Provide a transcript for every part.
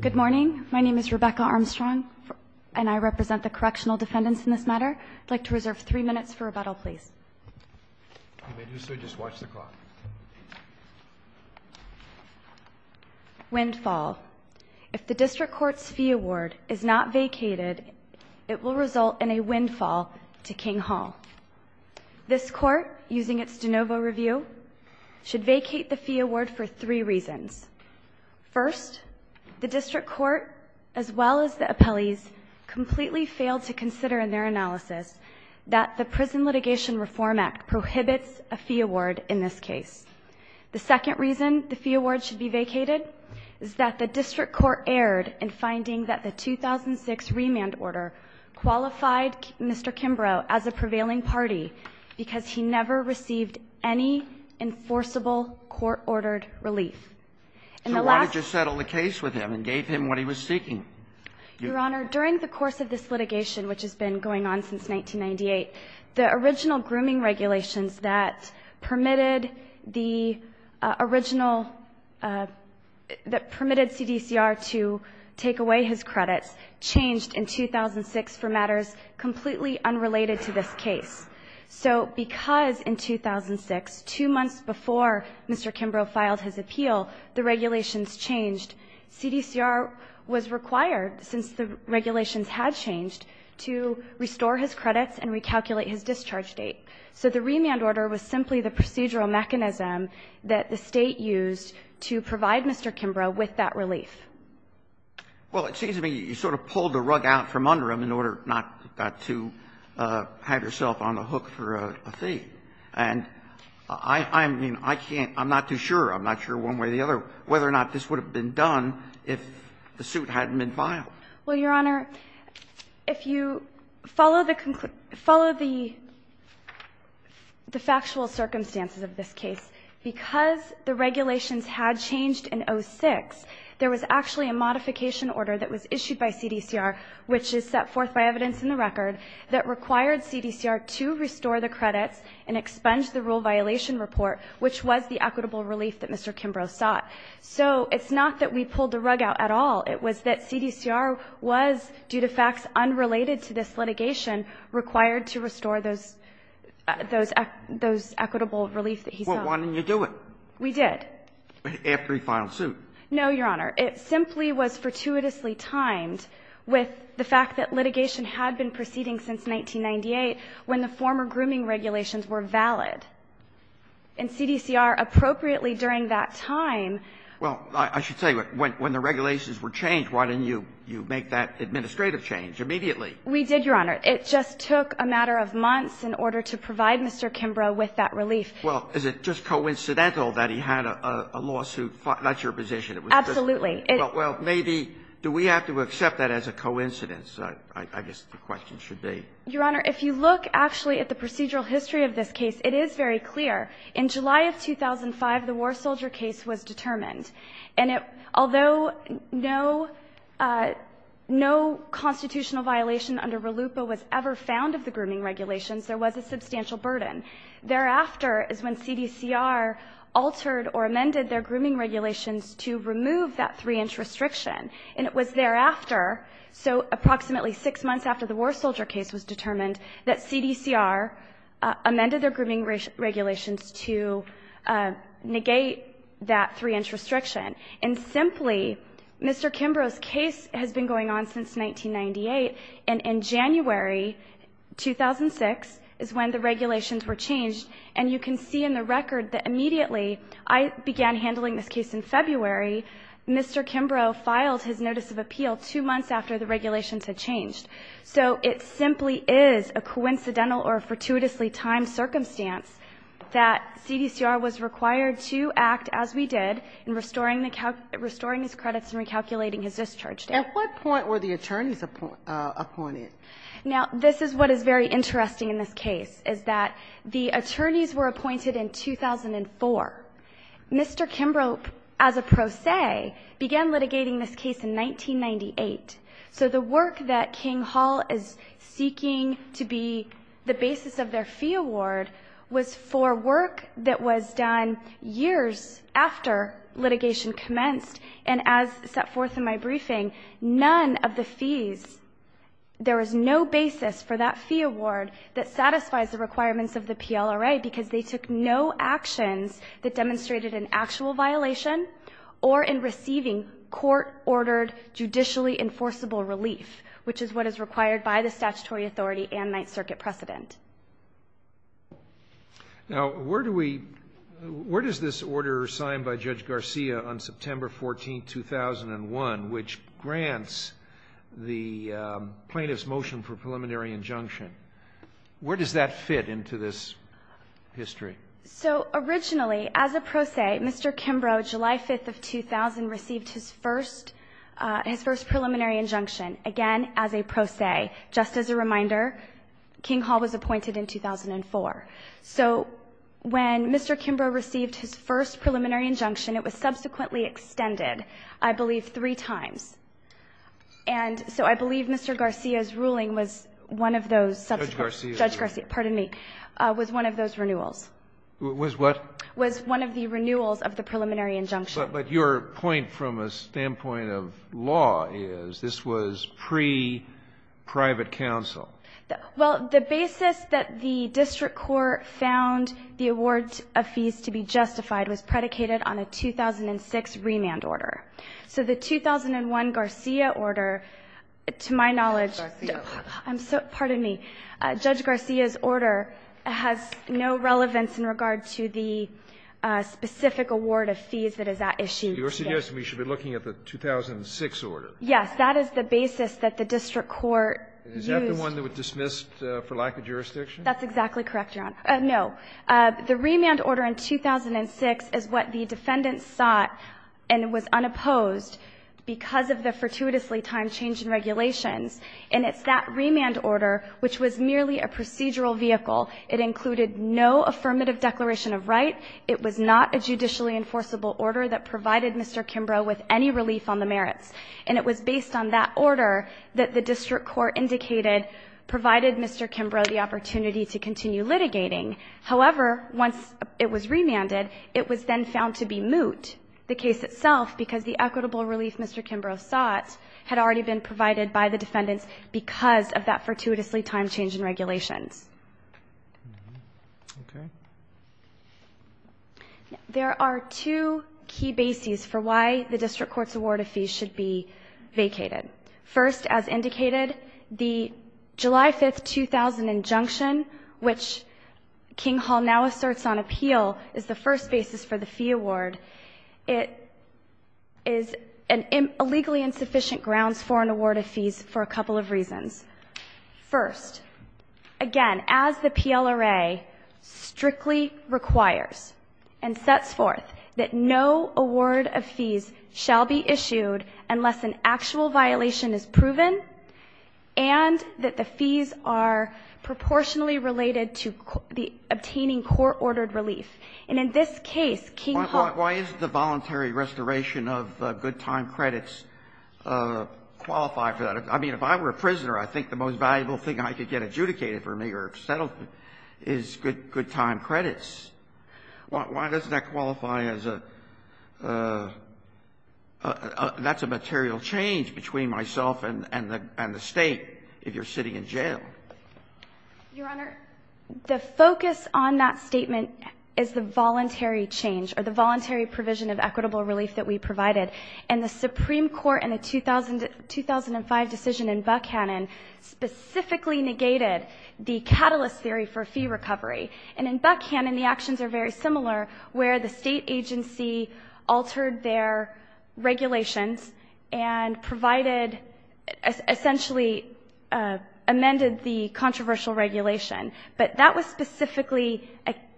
Good morning, my name is Rebecca Armstrong and I represent the Correctional Defendants in this matter. I'd like to reserve three minutes for rebuttal, please. Windfall. If the District Court's fee award is not vacated, it will result in a windfall to King Hall. This Court, using its de novo review, should vacate the fee award for three reasons. First, the District Court, as well as the appellees, completely failed to consider in their analysis that the Prison Litigation Reform Act prohibits a fee award in this case. The second reason the fee award should be vacated is that the District Court erred in finding that the 2006 remand order qualified Mr. Kimbrough as a prevailing party because he never received any enforceable court-ordered relief. In the last So why did you settle the case with him and gave him what he was seeking? Your Honor, during the course of this litigation, which has been going on since 1998, the original grooming regulations that permitted the original, that permitted CDCR to take away his credits changed in 2006 for matters completely unrelated to this case. So because in 2006, two months before Mr. Kimbrough filed his appeal, the regulations changed. CDCR was required, since the regulations had changed, to restore his credits and recalculate his discharge date. So the remand order was simply the procedural Well, it seems to me you sort of pulled the rug out from under him in order not to have yourself on the hook for a fee. And I mean, I can't – I'm not too sure, I'm not sure one way or the other, whether or not this would have been done if the suit hadn't been filed. Well, Your Honor, if you follow the factual circumstances of this case, because the regulations had changed in 2006, there was actually a modification order that was issued by CDCR, which is set forth by evidence in the record, that required CDCR to restore the credits and expunge the rule violation report, which was the equitable relief that Mr. Kimbrough sought. So it's not that we pulled the rug out at all. It was that CDCR was, due to facts unrelated to this litigation, required to restore those – those equitable relief that he sought. Well, why didn't you do it? We did. After he filed suit. No, Your Honor. It simply was fortuitously timed with the fact that litigation had been proceeding since 1998, when the former grooming regulations were valid. And CDCR appropriately during that time – Well, I should tell you, when the regulations were changed, why didn't you make that administrative change immediately? We did, Your Honor. It just took a matter of months in order to provide Mr. Kimbrough with that relief. Well, is it just coincidental that he had a lawsuit, not your position? Absolutely. Well, maybe do we have to accept that as a coincidence? I guess the question should be. Your Honor, if you look actually at the procedural history of this case, it is very determined. And although no constitutional violation under RLUIPA was ever found of the grooming regulations, there was a substantial burden. Thereafter is when CDCR altered or amended their grooming regulations to remove that 3-inch restriction. And it was thereafter, so approximately six months after the war soldier case was determined, that CDCR amended their grooming regulations to negate that 3-inch restriction. And simply, Mr. Kimbrough's case has been going on since 1998. And in January 2006 is when the regulations were changed. And you can see in the record that immediately I began handling this case in February. Mr. Kimbrough filed his notice of appeal two months after the regulations had changed. So it simply is a coincidental or a fortuitously timed circumstance that CDCR was required to act as we did in restoring his credits and recalculating his discharge date. At what point were the attorneys appointed? Now, this is what is very interesting in this case, is that the attorneys were appointed in 2004. Mr. Kimbrough, as a pro se, began litigating this case in 1998. So the work that King Hall is seeking to be the basis of their fee award was for work that was done years after litigation commenced. And as set forth in my briefing, none of the fees, there was no basis for that fee award that satisfies the requirements of the PLRA because they took no actions that demonstrated an actual violation or in receiving court-ordered, judicially enforceable relief, which is what is required by the statutory authority and Ninth Circuit precedent. Now, where do we, where does this order signed by Judge Garcia on September 14, 2001, which grants the plaintiff's motion for preliminary injunction, where does that fit into this history? So originally, as a pro se, Mr. Kimbrough, July 5th of 2000, received his first preliminary injunction, again, as a pro se. Just as a reminder, King Hall was appointed in 2004. So when Mr. Kimbrough received his first preliminary injunction, it was subsequently extended, I believe, three times. And so I believe Mr. Garcia's ruling was one of those subsequent. Judge Garcia. Judge Garcia, pardon me, was one of those renewals. Was what? Was one of the renewals of the preliminary injunction. But your point from a standpoint of law is this was pre-private counsel. Well, the basis that the district court found the award of fees to be justified was predicated on a 2006 remand order. So the 2001 Garcia order, to my knowledge, I'm sorry, pardon me. Judge Garcia's order has no relevance in regard to the specific award of fees that is at issue. You're suggesting we should be looking at the 2006 order. Yes. That is the basis that the district court used. Is that the one that was dismissed for lack of jurisdiction? That's exactly correct, Your Honor. No. The remand order in 2006 is what the defendants sought and was unopposed because of the fortuitously time change in regulations. And it's that remand order which was merely a procedural vehicle. It included no affirmative declaration of right. It was not a judicially enforceable order that provided Mr. Kimbrough with any relief on the merits. And it was based on that order that the district court indicated provided Mr. Kimbrough the opportunity to continue litigating. However, once it was remanded, it was then found to be moot, the case itself, because the equitable relief Mr. Kimbrough sought had already been provided by the defendants because of that fortuitously time change in regulations. Okay. There are two key bases for why the district court's award of fees should be vacated. First, as indicated, the July 5, 2000 injunction, which King Hall now asserts on appeal, is the first basis for the fee award. It is an illegally insufficient grounds for an award of fees for a couple of reasons. First, again, as the PLRA strictly requires and sets forth that no award of fees shall be issued unless an actual violation is proven and that the fees are proportionally related to the obtaining court-ordered relief. And in this case, King Hall ---- Why is the voluntary restoration of good time credits qualified for that? I mean, if I were a prisoner, I think the most valuable thing I could get adjudicated for me or settled is good time credits. Why doesn't that qualify as a ---- that's a material change between myself and the State if you're sitting in jail? Your Honor, the focus on that statement is the voluntary change or the voluntary provision of equitable relief that we provided. And the Supreme Court in the 2005 decision in Buckhannon specifically negated the catalyst theory for fee recovery. And in Buckhannon, the actions are very similar where the State agency altered their and provided ---- essentially amended the controversial regulation. But that was specifically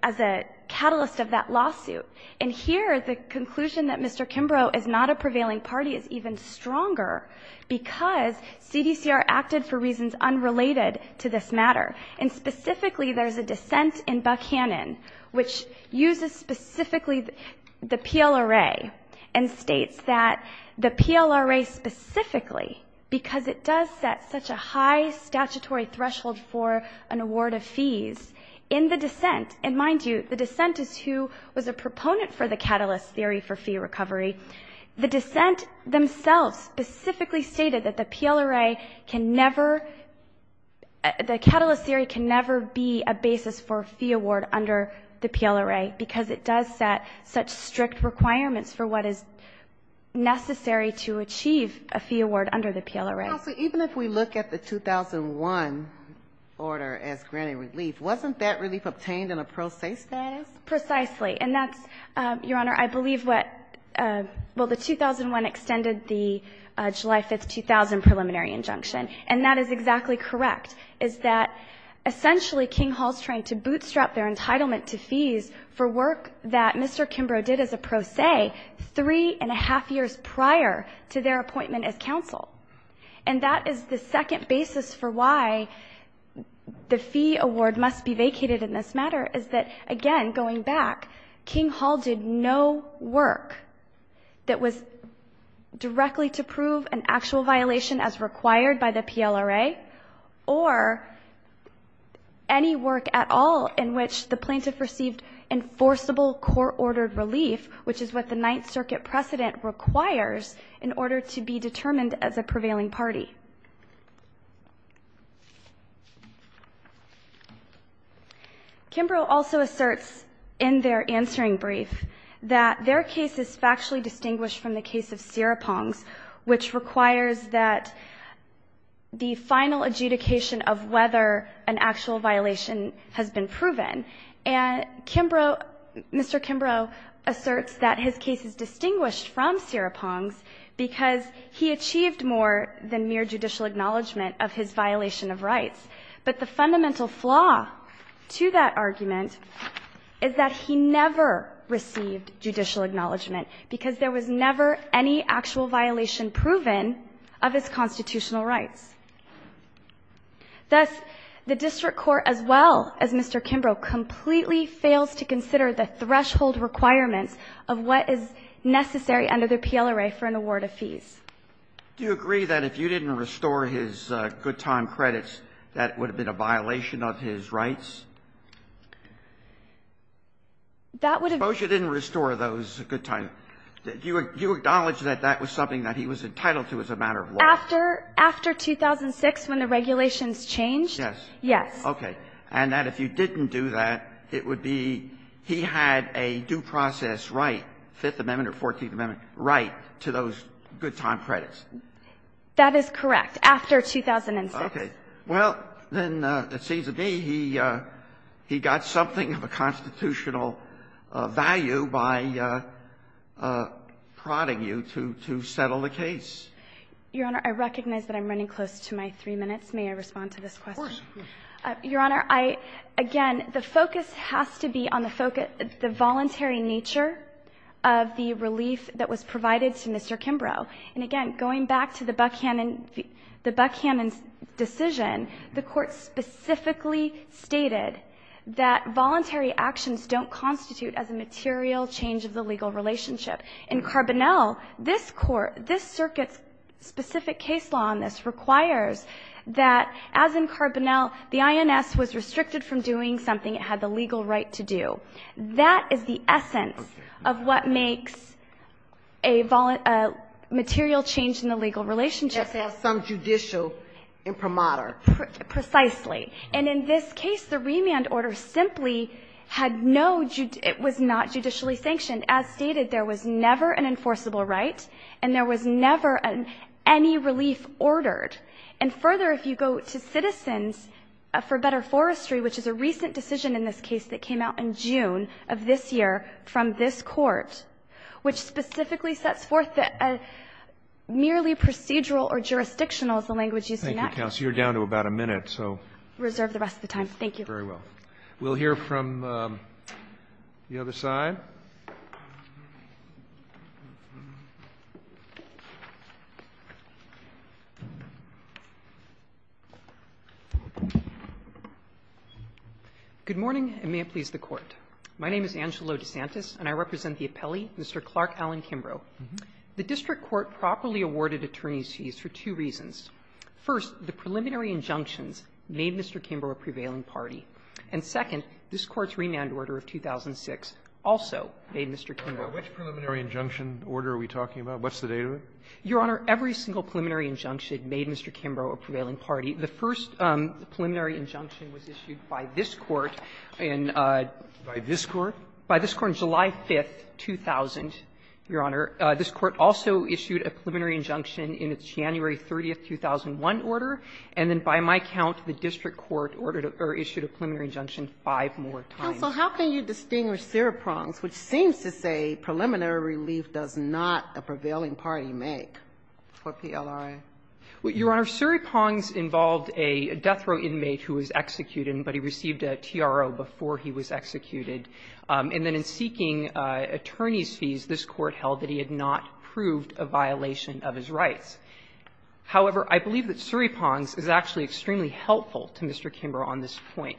as a catalyst of that lawsuit. And here, the conclusion that Mr. Kimbrough is not a prevailing party is even stronger because CDCR acted for reasons unrelated to this matter. And specifically, there's a dissent in Buckhannon which uses specifically the PLRA and states that the PLRA specifically because it does set such a high statutory threshold for an award of fees in the dissent. And mind you, the dissent is who was a proponent for the catalyst theory for fee recovery. The dissent themselves specifically stated that the PLRA can never ---- the catalyst theory can never be a basis for a fee award under the PLRA because it does set such strict requirements for what is necessary to achieve a fee award under the PLRA. So even if we look at the 2001 order as granted relief, wasn't that relief obtained in a pro se status? Precisely. And that's, Your Honor, I believe what ---- well, the 2001 extended the July 5, 2000 preliminary injunction. fees for work that Mr. Kimbrough did as a pro se three and a half years prior to their appointment as counsel. And that is the second basis for why the fee award must be vacated in this matter is that, again, going back, King Hall did no work that was directly to prove an actual violation as required by the PLRA or any work at all in which the plaintiff received enforceable court-ordered relief, which is what the Ninth Circuit precedent requires in order to be determined as a prevailing party. Kimbrough also asserts in their answering brief that their case is factually distinguished from the case of Siripong's, which requires that the final adjudication of whether an actual violation has been proven. And Kimbrough ---- Mr. Kimbrough asserts that his case is distinguished from Siripong's because he achieved more than mere judicial acknowledgment of his violation of rights. But the fundamental flaw to that argument is that he never received judicial acknowledgement because there was never any actual violation proven of his constitutional rights. Thus, the district court, as well as Mr. Kimbrough, completely fails to consider the threshold requirements of what is necessary under the PLRA for an award of fees. Roberts. Do you agree that if you didn't restore his good time credits, that would have been That would have been ---- Suppose you didn't restore those good time ---- you acknowledge that that was something that he was entitled to as a matter of law? After 2006, when the regulations changed, yes. Okay. And that if you didn't do that, it would be he had a due process right, Fifth Amendment or Fourteenth Amendment, right to those good time credits. That is correct, after 2006. Okay. Well, then, it seems to me he got something of a constitutional value by prodding you to settle the case. Your Honor, I recognize that I'm running close to my three minutes. May I respond to this question? Of course. Your Honor, I, again, the focus has to be on the voluntary nature of the relief that was provided to Mr. Kimbrough. And, again, going back to the Buckhannon decision, the Court specifically stated that voluntary actions don't constitute as a material change of the legal relationship. In Carbonell, this Court, this circuit's specific case law on this requires that, as in Carbonell, the INS was restricted from doing something it had the legal right to do. That is the essence of what makes a material change in the legal relationship. Yes, as some judicial imprimatur. Precisely. And in this case, the remand order simply had no, it was not judicially sanctioned. As stated, there was never an enforceable right, and there was never any relief ordered. And, further, if you go to Citizens for Better Forestry, which is a recent decision in this case that came out in June of this year from this Court, which specifically sets forth merely procedural or jurisdictional is the language used in that case. Thank you, counsel. You're down to about a minute, so. Reserve the rest of the time. Thank you. Very well. We'll hear from the other side. DeSantis. Good morning, and may it please the Court. My name is Angelo DeSantis, and I represent the appellee, Mr. Clark Allen Kimbrough. The district court properly awarded attorney's fees for two reasons. First, the preliminary injunctions made Mr. Kimbrough a prevailing party. And, second, this Court's remand order of 2006 also made Mr. Kimbrough a prevailing party. Which preliminary injunction order are we talking about? What's the date of it? Your Honor, every single preliminary injunction made Mr. Kimbrough a prevailing party. The first preliminary injunction was issued by this Court in a by this Court? By this Court on July 5th, 2000, Your Honor. This Court also issued a preliminary injunction in its January 30th, 2001 order. And then, by my count, the district court ordered or issued a preliminary injunction five more times. Counsel, how can you distinguish Surypong's, which seems to say preliminary relief does not a prevailing party make, for PLRA? Your Honor, Surypong's involved a death row inmate who was executed, but he received a TRO before he was executed. And then in seeking attorney's fees, this Court held that he had not proved a violation of his rights. However, I believe that Surypong's is actually extremely helpful to Mr. Kimbrough on this point.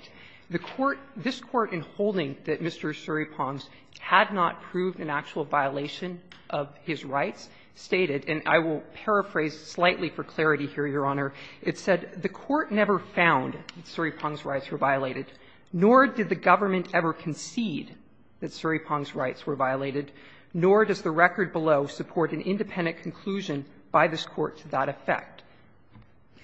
The Court – this Court, in holding that Mr. Surypong's had not proved an actual violation of his rights, stated – and I will paraphrase slightly for clarity here, Your Honor – it said the Court never found that Surypong's rights were violated, nor did the government ever concede that Surypong's rights were violated, nor does the record below support an independent conclusion by this Court to that effect.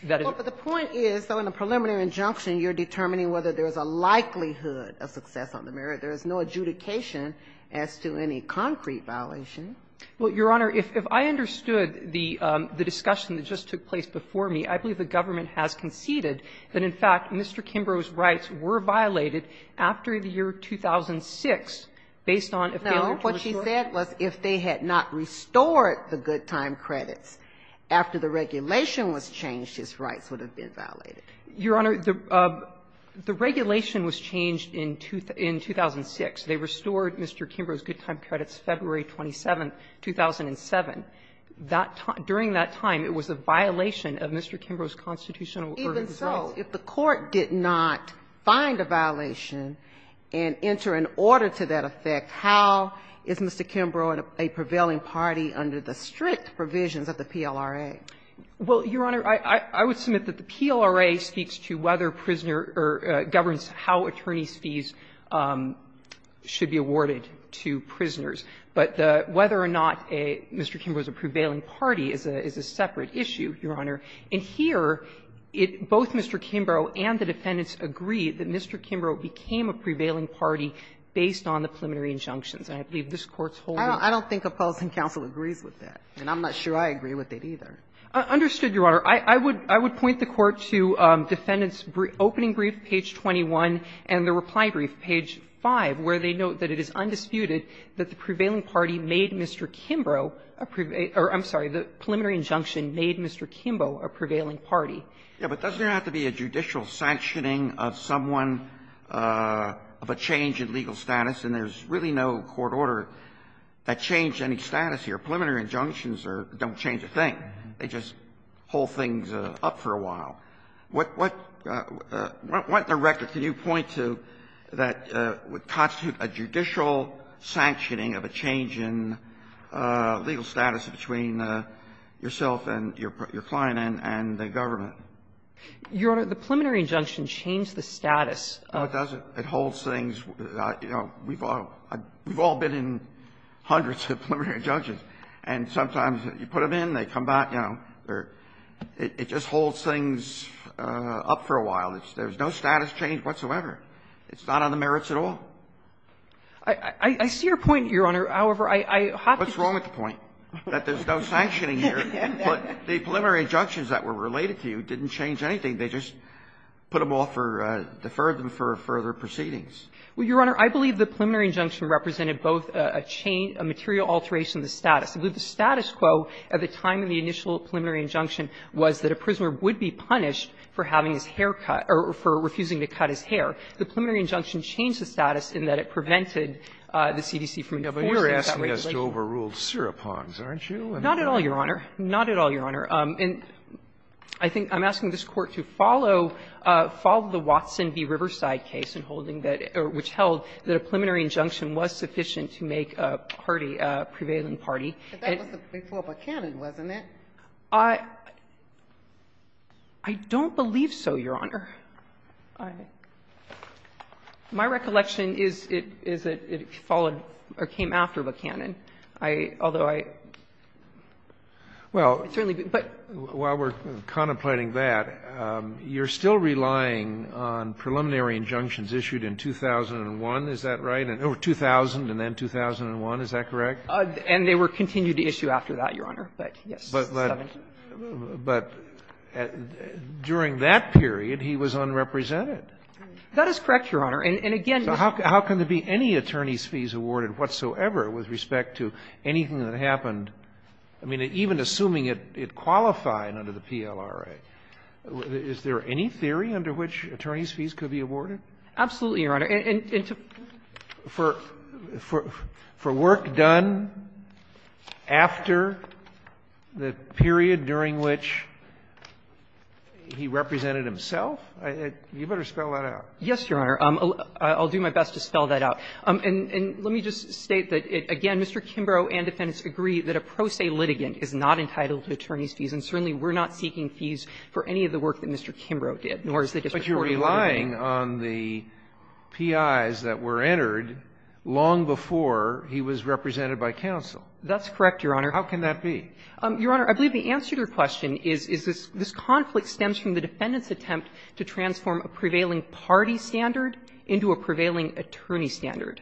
That is the point is, though, in a preliminary injunction, you're determining whether there is a likelihood of success on the merit. There is no adjudication as to any concrete violation. Well, Your Honor, if I understood the discussion that just took place before me, I believe the government has conceded that, in fact, Mr. Kimbrough's rights were violated after the year 2006, based on a failure to assure. But what she said was if they had not restored the good time credits after the regulation was changed, his rights would have been violated. Your Honor, the regulation was changed in 2006. They restored Mr. Kimbrough's good time credits February 27, 2007. During that time, it was a violation of Mr. Kimbrough's constitutional rights. Even so, if the Court did not find a violation and enter an order to that effect, how is Mr. Kimbrough a prevailing party under the strict provisions of the PLRA? Well, Your Honor, I would submit that the PLRA speaks to whether prisoner or governs how attorney's fees should be awarded to prisoners. But whether or not Mr. Kimbrough is a prevailing party is a separate issue, Your Honor. And here, both Mr. Kimbrough and the defendants agree that Mr. Kimbrough became a prevailing party based on the preliminary injunctions. And I believe this Court's holding it. I don't think a policy counsel agrees with that, and I'm not sure I agree with it either. Understood, Your Honor. I would point the Court to Defendant's opening brief, page 21, and the reply brief, page 5, where they note that it is undisputed that the prevailing party made Mr. Kimbrough a prevailing or, I'm sorry, the preliminary injunction made Mr. Kimbrough a prevailing party. Yeah, but doesn't there have to be a judicial sanctioning of someone of a change in legal status, and there's really no court order that changed any status here. Preliminary injunctions are don't change a thing. They just hold things up for a while. What the record can you point to that would constitute a judicial sanctioning of a change in legal status between yourself and your client and the government? Your Honor, the preliminary injunction changed the status of the court. No, it doesn't. It holds things. You know, we've all been in hundreds of preliminary injunctions, and sometimes you put them in, they come back, you know, or it just holds things up for a while. There's no status change whatsoever. It's not on the merits at all. I see your point, Your Honor. However, I have to say that there's no sanctioning here, but the preliminary injunctions that were related to you didn't change anything. They just put them off or deferred them for further proceedings. Well, Your Honor, I believe the preliminary injunction represented both a change of material alteration of the status. I believe the status quo at the time of the initial preliminary injunction was that a prisoner would be punished for having his hair cut or for refusing to cut his hair. The preliminary injunction changed the status in that it prevented the CDC from enforcing that regulation. You're asking us to overrule Seropon's, aren't you? Not at all, Your Honor. Not at all, Your Honor. And I think I'm asking this Court to follow the Watson v. Riverside case in holding that or which held that a preliminary injunction was sufficient to make a party, a prevailing party. But that was before Buchanan, wasn't it? I don't believe so, Your Honor. My recollection is it followed or came after Buchanan. Although I don't think it was after Buchanan, although I don't think it was after Buchanan. Well, while we're contemplating that, you're still relying on preliminary injunctions issued in 2001, is that right, or 2000 and then 2001, is that correct? And they were continued to issue after that, Your Honor, but yes. But during that period, he was unrepresented. That is correct, Your Honor. And, again, this was under the PLRA. So how can there be any attorneys' fees awarded whatsoever with respect to anything that happened, I mean, even assuming it qualified under the PLRA? Is there any theory under which attorneys' fees could be awarded? Absolutely, Your Honor. And to for work done after the period during which he represented himself, you better spell that out. Yes, Your Honor. I'll do my best to spell that out. And let me just state that, again, Mr. Kimbrough and defendants agree that a pro se litigant is not entitled to attorneys' fees, and certainly we're not seeking fees for any of the work that Mr. Kimbrough did, nor is the district court. But you're relying on the PIs that were entered long before he was represented by counsel. That's correct, Your Honor. How can that be? Your Honor, I believe the answer to your question is, is this conflict stems from the defendant's attempt to transform a prevailing party standard into a prevailing attorney standard.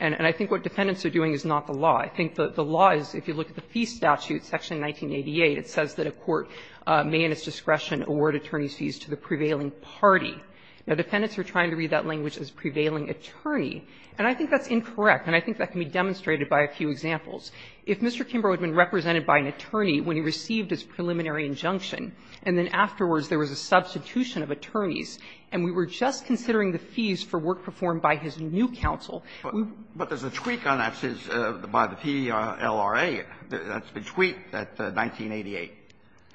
And I think what defendants are doing is not the law. I think the law is, if you look at the fee statute, section 1988, it says that a court may in its discretion award attorney's fees to the prevailing party. Now, defendants are trying to read that language as prevailing attorney, and I think that's incorrect, and I think that can be demonstrated by a few examples. If Mr. Kimbrough had been represented by an attorney when he received his preliminary injunction, and then afterwards there was a substitution of attorneys, and we were just considering the fees for work performed by his new counsel, we would have been able to do that. But there's a tweak on that, by the PLRA. That's been tweaked at 1988.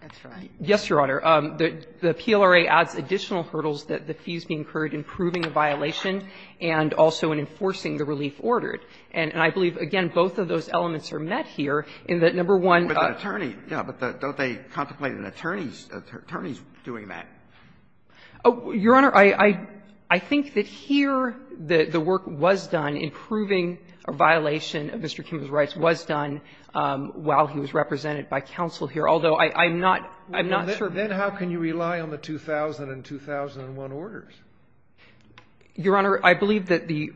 That's right. Yes, Your Honor. The PLRA adds additional hurdles that the fees be incurred in proving a violation and also in enforcing the relief order. And I believe, again, both of those elements are met here in that, number one, But the attorney, yeah, but don't they contemplate an attorney's doing that? Your Honor, I think that here the work was done in proving a violation of Mr. Kimbrough's rights was done while he was represented by counsel here, although I'm not sure. Then how can you rely on the 2000 and 2001 orders? Your Honor, I believe that the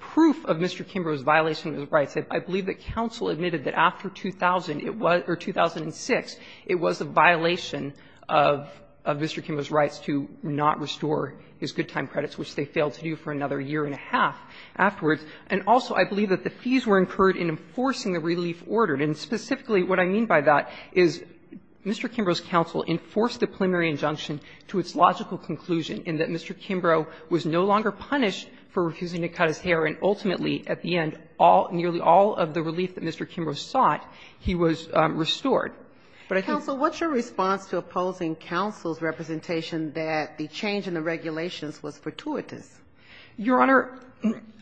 proof of Mr. Kimbrough's violation of his rights, I believe that counsel admitted that after 2000, it was or 2006, it was a violation of Mr. Kimbrough's rights to not restore his good time credits, which they failed to do for another year and a half afterwards. And also, I believe that the fees were incurred in enforcing the relief order. And specifically, what I mean by that is Mr. Kimbrough's counsel enforced the preliminary injunction to its logical conclusion in that Mr. Kimbrough was no longer punished for refusing to cut his hair, and ultimately, at the end, all, nearly all of the relief that Mr. Kimbrough sought, he was restored. But I think that's what's your response to opposing counsel's representation that the change in the regulations was fortuitous? Your Honor,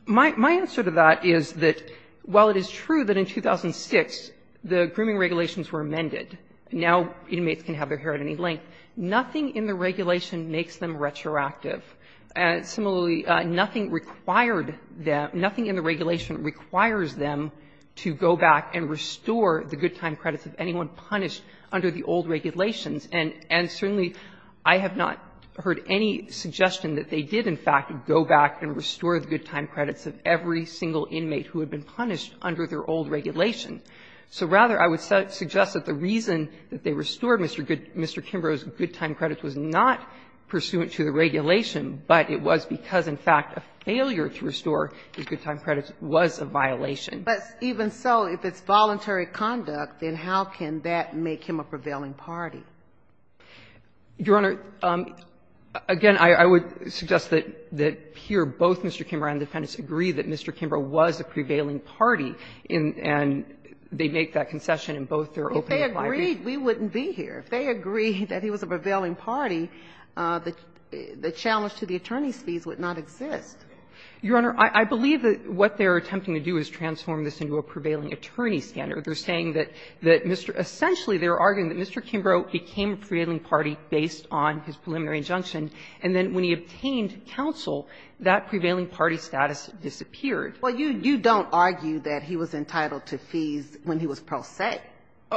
my answer to that is that, while it is true that in 2006, the grooming regulations were amended, now inmates can have their hair at any length, nothing in the regulation makes them retroactive. Similarly, nothing required them – nothing in the regulation requires them to go back and restore the good time credits of anyone punished under the old regulations. And certainly, I have not heard any suggestion that they did, in fact, go back and restore the good time credits of every single inmate who had been punished under their old regulation. So rather, I would suggest that the reason that they restored Mr. Kimbrough's good time credits was not pursuant to the regulation, but it was because, in fact, a failure to restore his good time credits was a violation. But even so, if it's voluntary conduct, then how can that make him a prevailing party? Your Honor, again, I would suggest that here both Mr. Kimbrough and the Defendants agree that Mr. Kimbrough was a prevailing party, and they make that concession in both their open and private. If they agreed, we wouldn't be here. If they agreed that he was a prevailing party, the challenge to the attorney's fees would not exist. Your Honor, I believe that what they're attempting to do is transform this into a prevailing attorney standard. They're saying that Mr. – essentially, they're arguing that Mr. Kimbrough became a prevailing party based on his preliminary injunction, and then when he obtained counsel, that prevailing party status disappeared. Well, you don't argue that he was entitled to fees when he was pro se.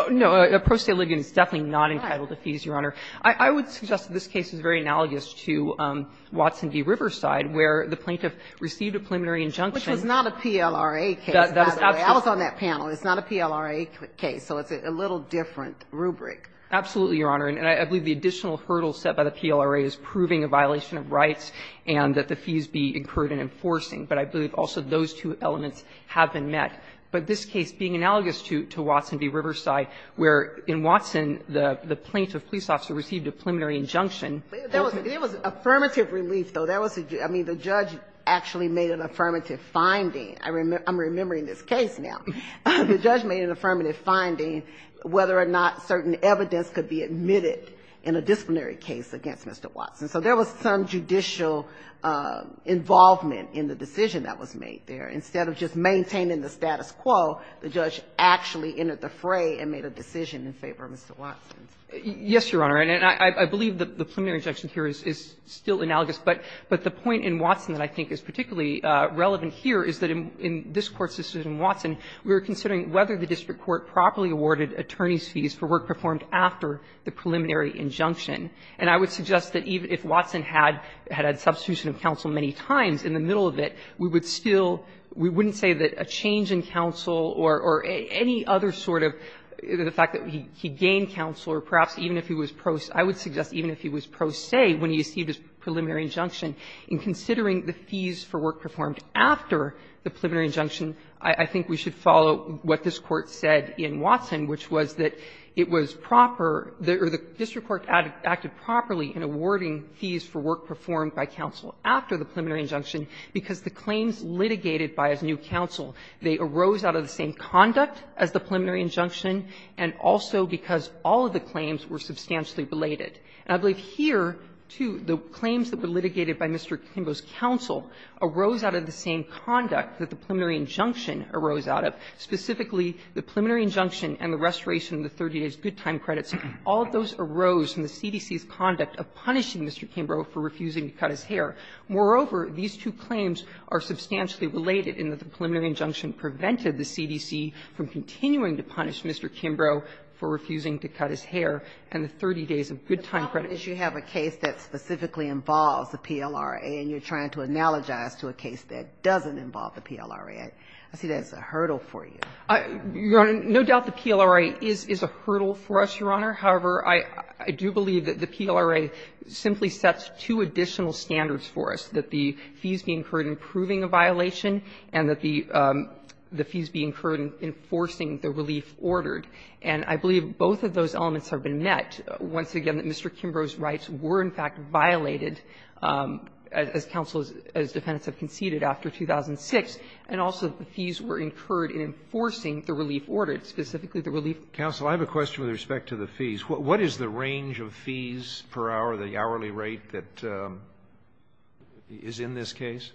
No, a pro se ligand is definitely not entitled to fees, Your Honor. I would suggest that this case is very analogous to Watson v. Riverside, where the plaintiff received a preliminary injunction. Which was not a PLRA case, by the way. I was on that panel. It's not a PLRA case, so it's a little different rubric. Absolutely, Your Honor. And I believe the additional hurdle set by the PLRA is proving a violation of rights and that the fees be incurred in enforcing. But I believe also those two elements have been met. But this case being analogous to Watson v. Riverside, where in Watson, the plaintiff's police officer received a preliminary injunction. There was affirmative relief, though. That was a – I mean, the judge actually made an affirmative finding. I'm remembering this case now. The judge made an affirmative finding whether or not certain evidence could be admitted in a disciplinary case against Mr. Watson. So there was some judicial involvement in the decision that was made there. Instead of just maintaining the status quo, the judge actually entered the fray and made a decision in favor of Mr. Watson. Yes, Your Honor. And I believe that the preliminary injunction here is still analogous. But the point in Watson that I think is particularly relevant here is that in this Court's decision in Watson, we were considering whether the district court properly awarded attorneys' fees for work performed after the preliminary injunction. And I would suggest that even if Watson had had a substitution of counsel many times in the middle of it, we would still – we wouldn't say that a change in counsel or any other sort of – the fact that he gained counsel or perhaps even if he was pro – I would suggest even if he was pro se when he received his preliminary injunction, in considering the fees for work performed after the preliminary injunction, I think we should follow what this Court said in Watson, which was that it was proper – or the district court acted properly in awarding fees for work performed by counsel after the preliminary injunction because the claims litigated by his new counsel, they arose out of the same conduct as the preliminary injunction, and also because all of the claims were substantially related. And I believe here, too, the claims that were litigated by Mr. Kimbrough's counsel arose out of the same conduct that the preliminary injunction arose out of. Specifically, the preliminary injunction and the restoration of the 30 days' good time credits, all of those arose from the CDC's conduct of punishing Mr. Kimbrough for refusing to cut his hair. Moreover, these two claims are substantially related in that the preliminary injunction prevented the CDC from continuing to punish Mr. Kimbrough for refusing to cut his hair and the 30 days of good time credits. Ginsburg. But the problem is you have a case that specifically involves the PLRA, and you're trying to analogize to a case that doesn't involve the PLRA. I see that as a hurdle for you. Your Honor, no doubt the PLRA is a hurdle for us, Your Honor. However, I do believe that the PLRA simply sets two additional standards for us, that the fees be incurred in proving a violation and that the fees be incurred in enforcing the relief ordered. And I believe both of those elements have been met. Once again, Mr. Kimbrough's rights were, in fact, violated, as counsel, as defendants have conceded, after 2006, and also the fees were incurred in enforcing the relief ordered, specifically the relief. Counsel, I have a question with respect to the fees. What is the range of fees per hour, the hourly rate that is in this case?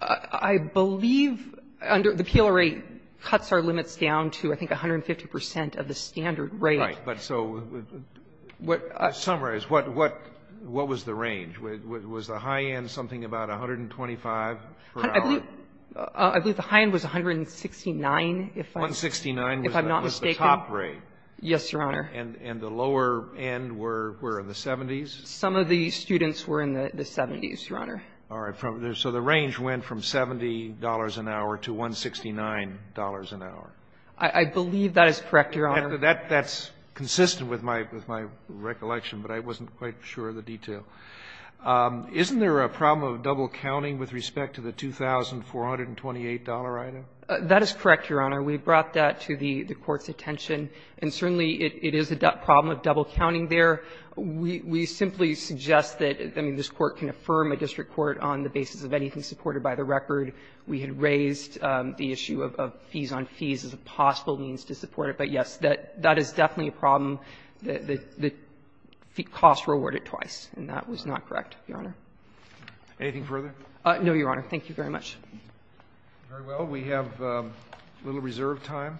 I believe under the PLRA cuts our limits down to, I think, 150 percent of the standard rate. Right. But so what the summary is, what was the range? Was the high end something about 125 per hour? I believe the high end was 169, if I'm not mistaken. 169 was the top rate. Yes, Your Honor. And the lower end were in the 70s? Some of the students were in the 70s, Your Honor. All right. So the range went from $70 an hour to $169 an hour. I believe that is correct, Your Honor. That's consistent with my recollection, but I wasn't quite sure of the detail. Isn't there a problem of double counting with respect to the $2,428 item? That is correct, Your Honor. We brought that to the Court's attention, and certainly it is a problem of double counting there. We simply suggest that, I mean, this Court can affirm a district court on the basis of anything supported by the record. We had raised the issue of fees on fees as a possible means to support it. But, yes, that is definitely a problem. The costs were awarded twice, and that was not correct, Your Honor. Anything further? No, Your Honor. Thank you very much. Very well. We have a little reserve time.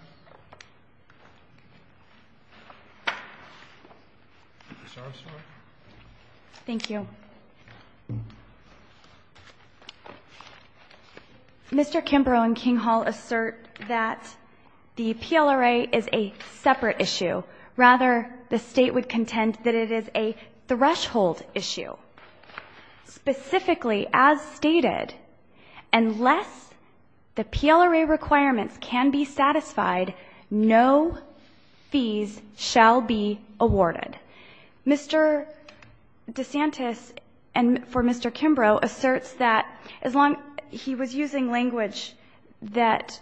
Thank you. Mr. Kimbrough and Kinghall assert that the PLRA is a separate issue. Rather, the state would contend that it is a threshold issue. Specifically, as stated, unless the PLRA requirements can be satisfied, no fees shall be awarded. Mr. DeSantis, and for Mr. Kimbrough, asserts that he was using language that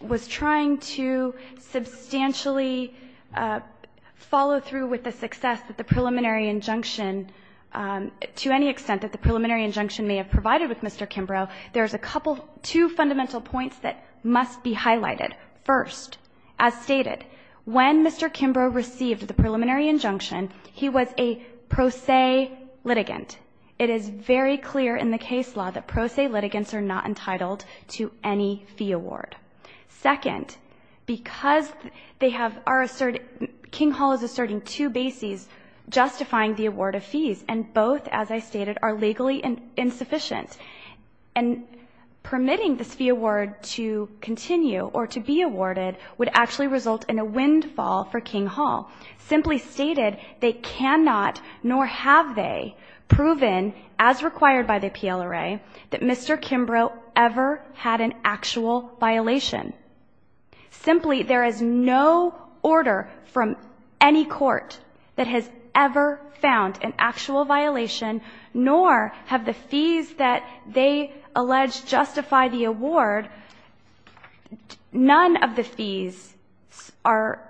was trying to substantially follow through with the success that the preliminary injunction, to any extent that the preliminary injunction may have provided with Mr. Kimbrough, there's a couple, two fundamental points that must be highlighted. First, as stated, when Mr. Kimbrough received the preliminary injunction, he was a pro se litigant. It is very clear in the case law that pro se litigants are not entitled to any fee award. Second, because Kinghall is asserting two bases, justifying the award of fees, and both, as I stated, are legally insufficient. And permitting this fee award to continue, or to be awarded, would actually result in a windfall for Kinghall. Simply stated, they cannot, nor have they, proven, as required by the PLRA, that Mr. Kimbrough ever had an actual violation. Simply, there is no order from any court that has ever found an actual violation, nor have the fees that they allege justify the award. None of the fees are,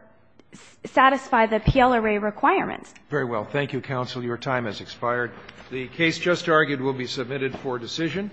satisfy the PLRA requirements. Very well. Thank you, counsel. Your time has expired. The case just argued will be submitted for decision.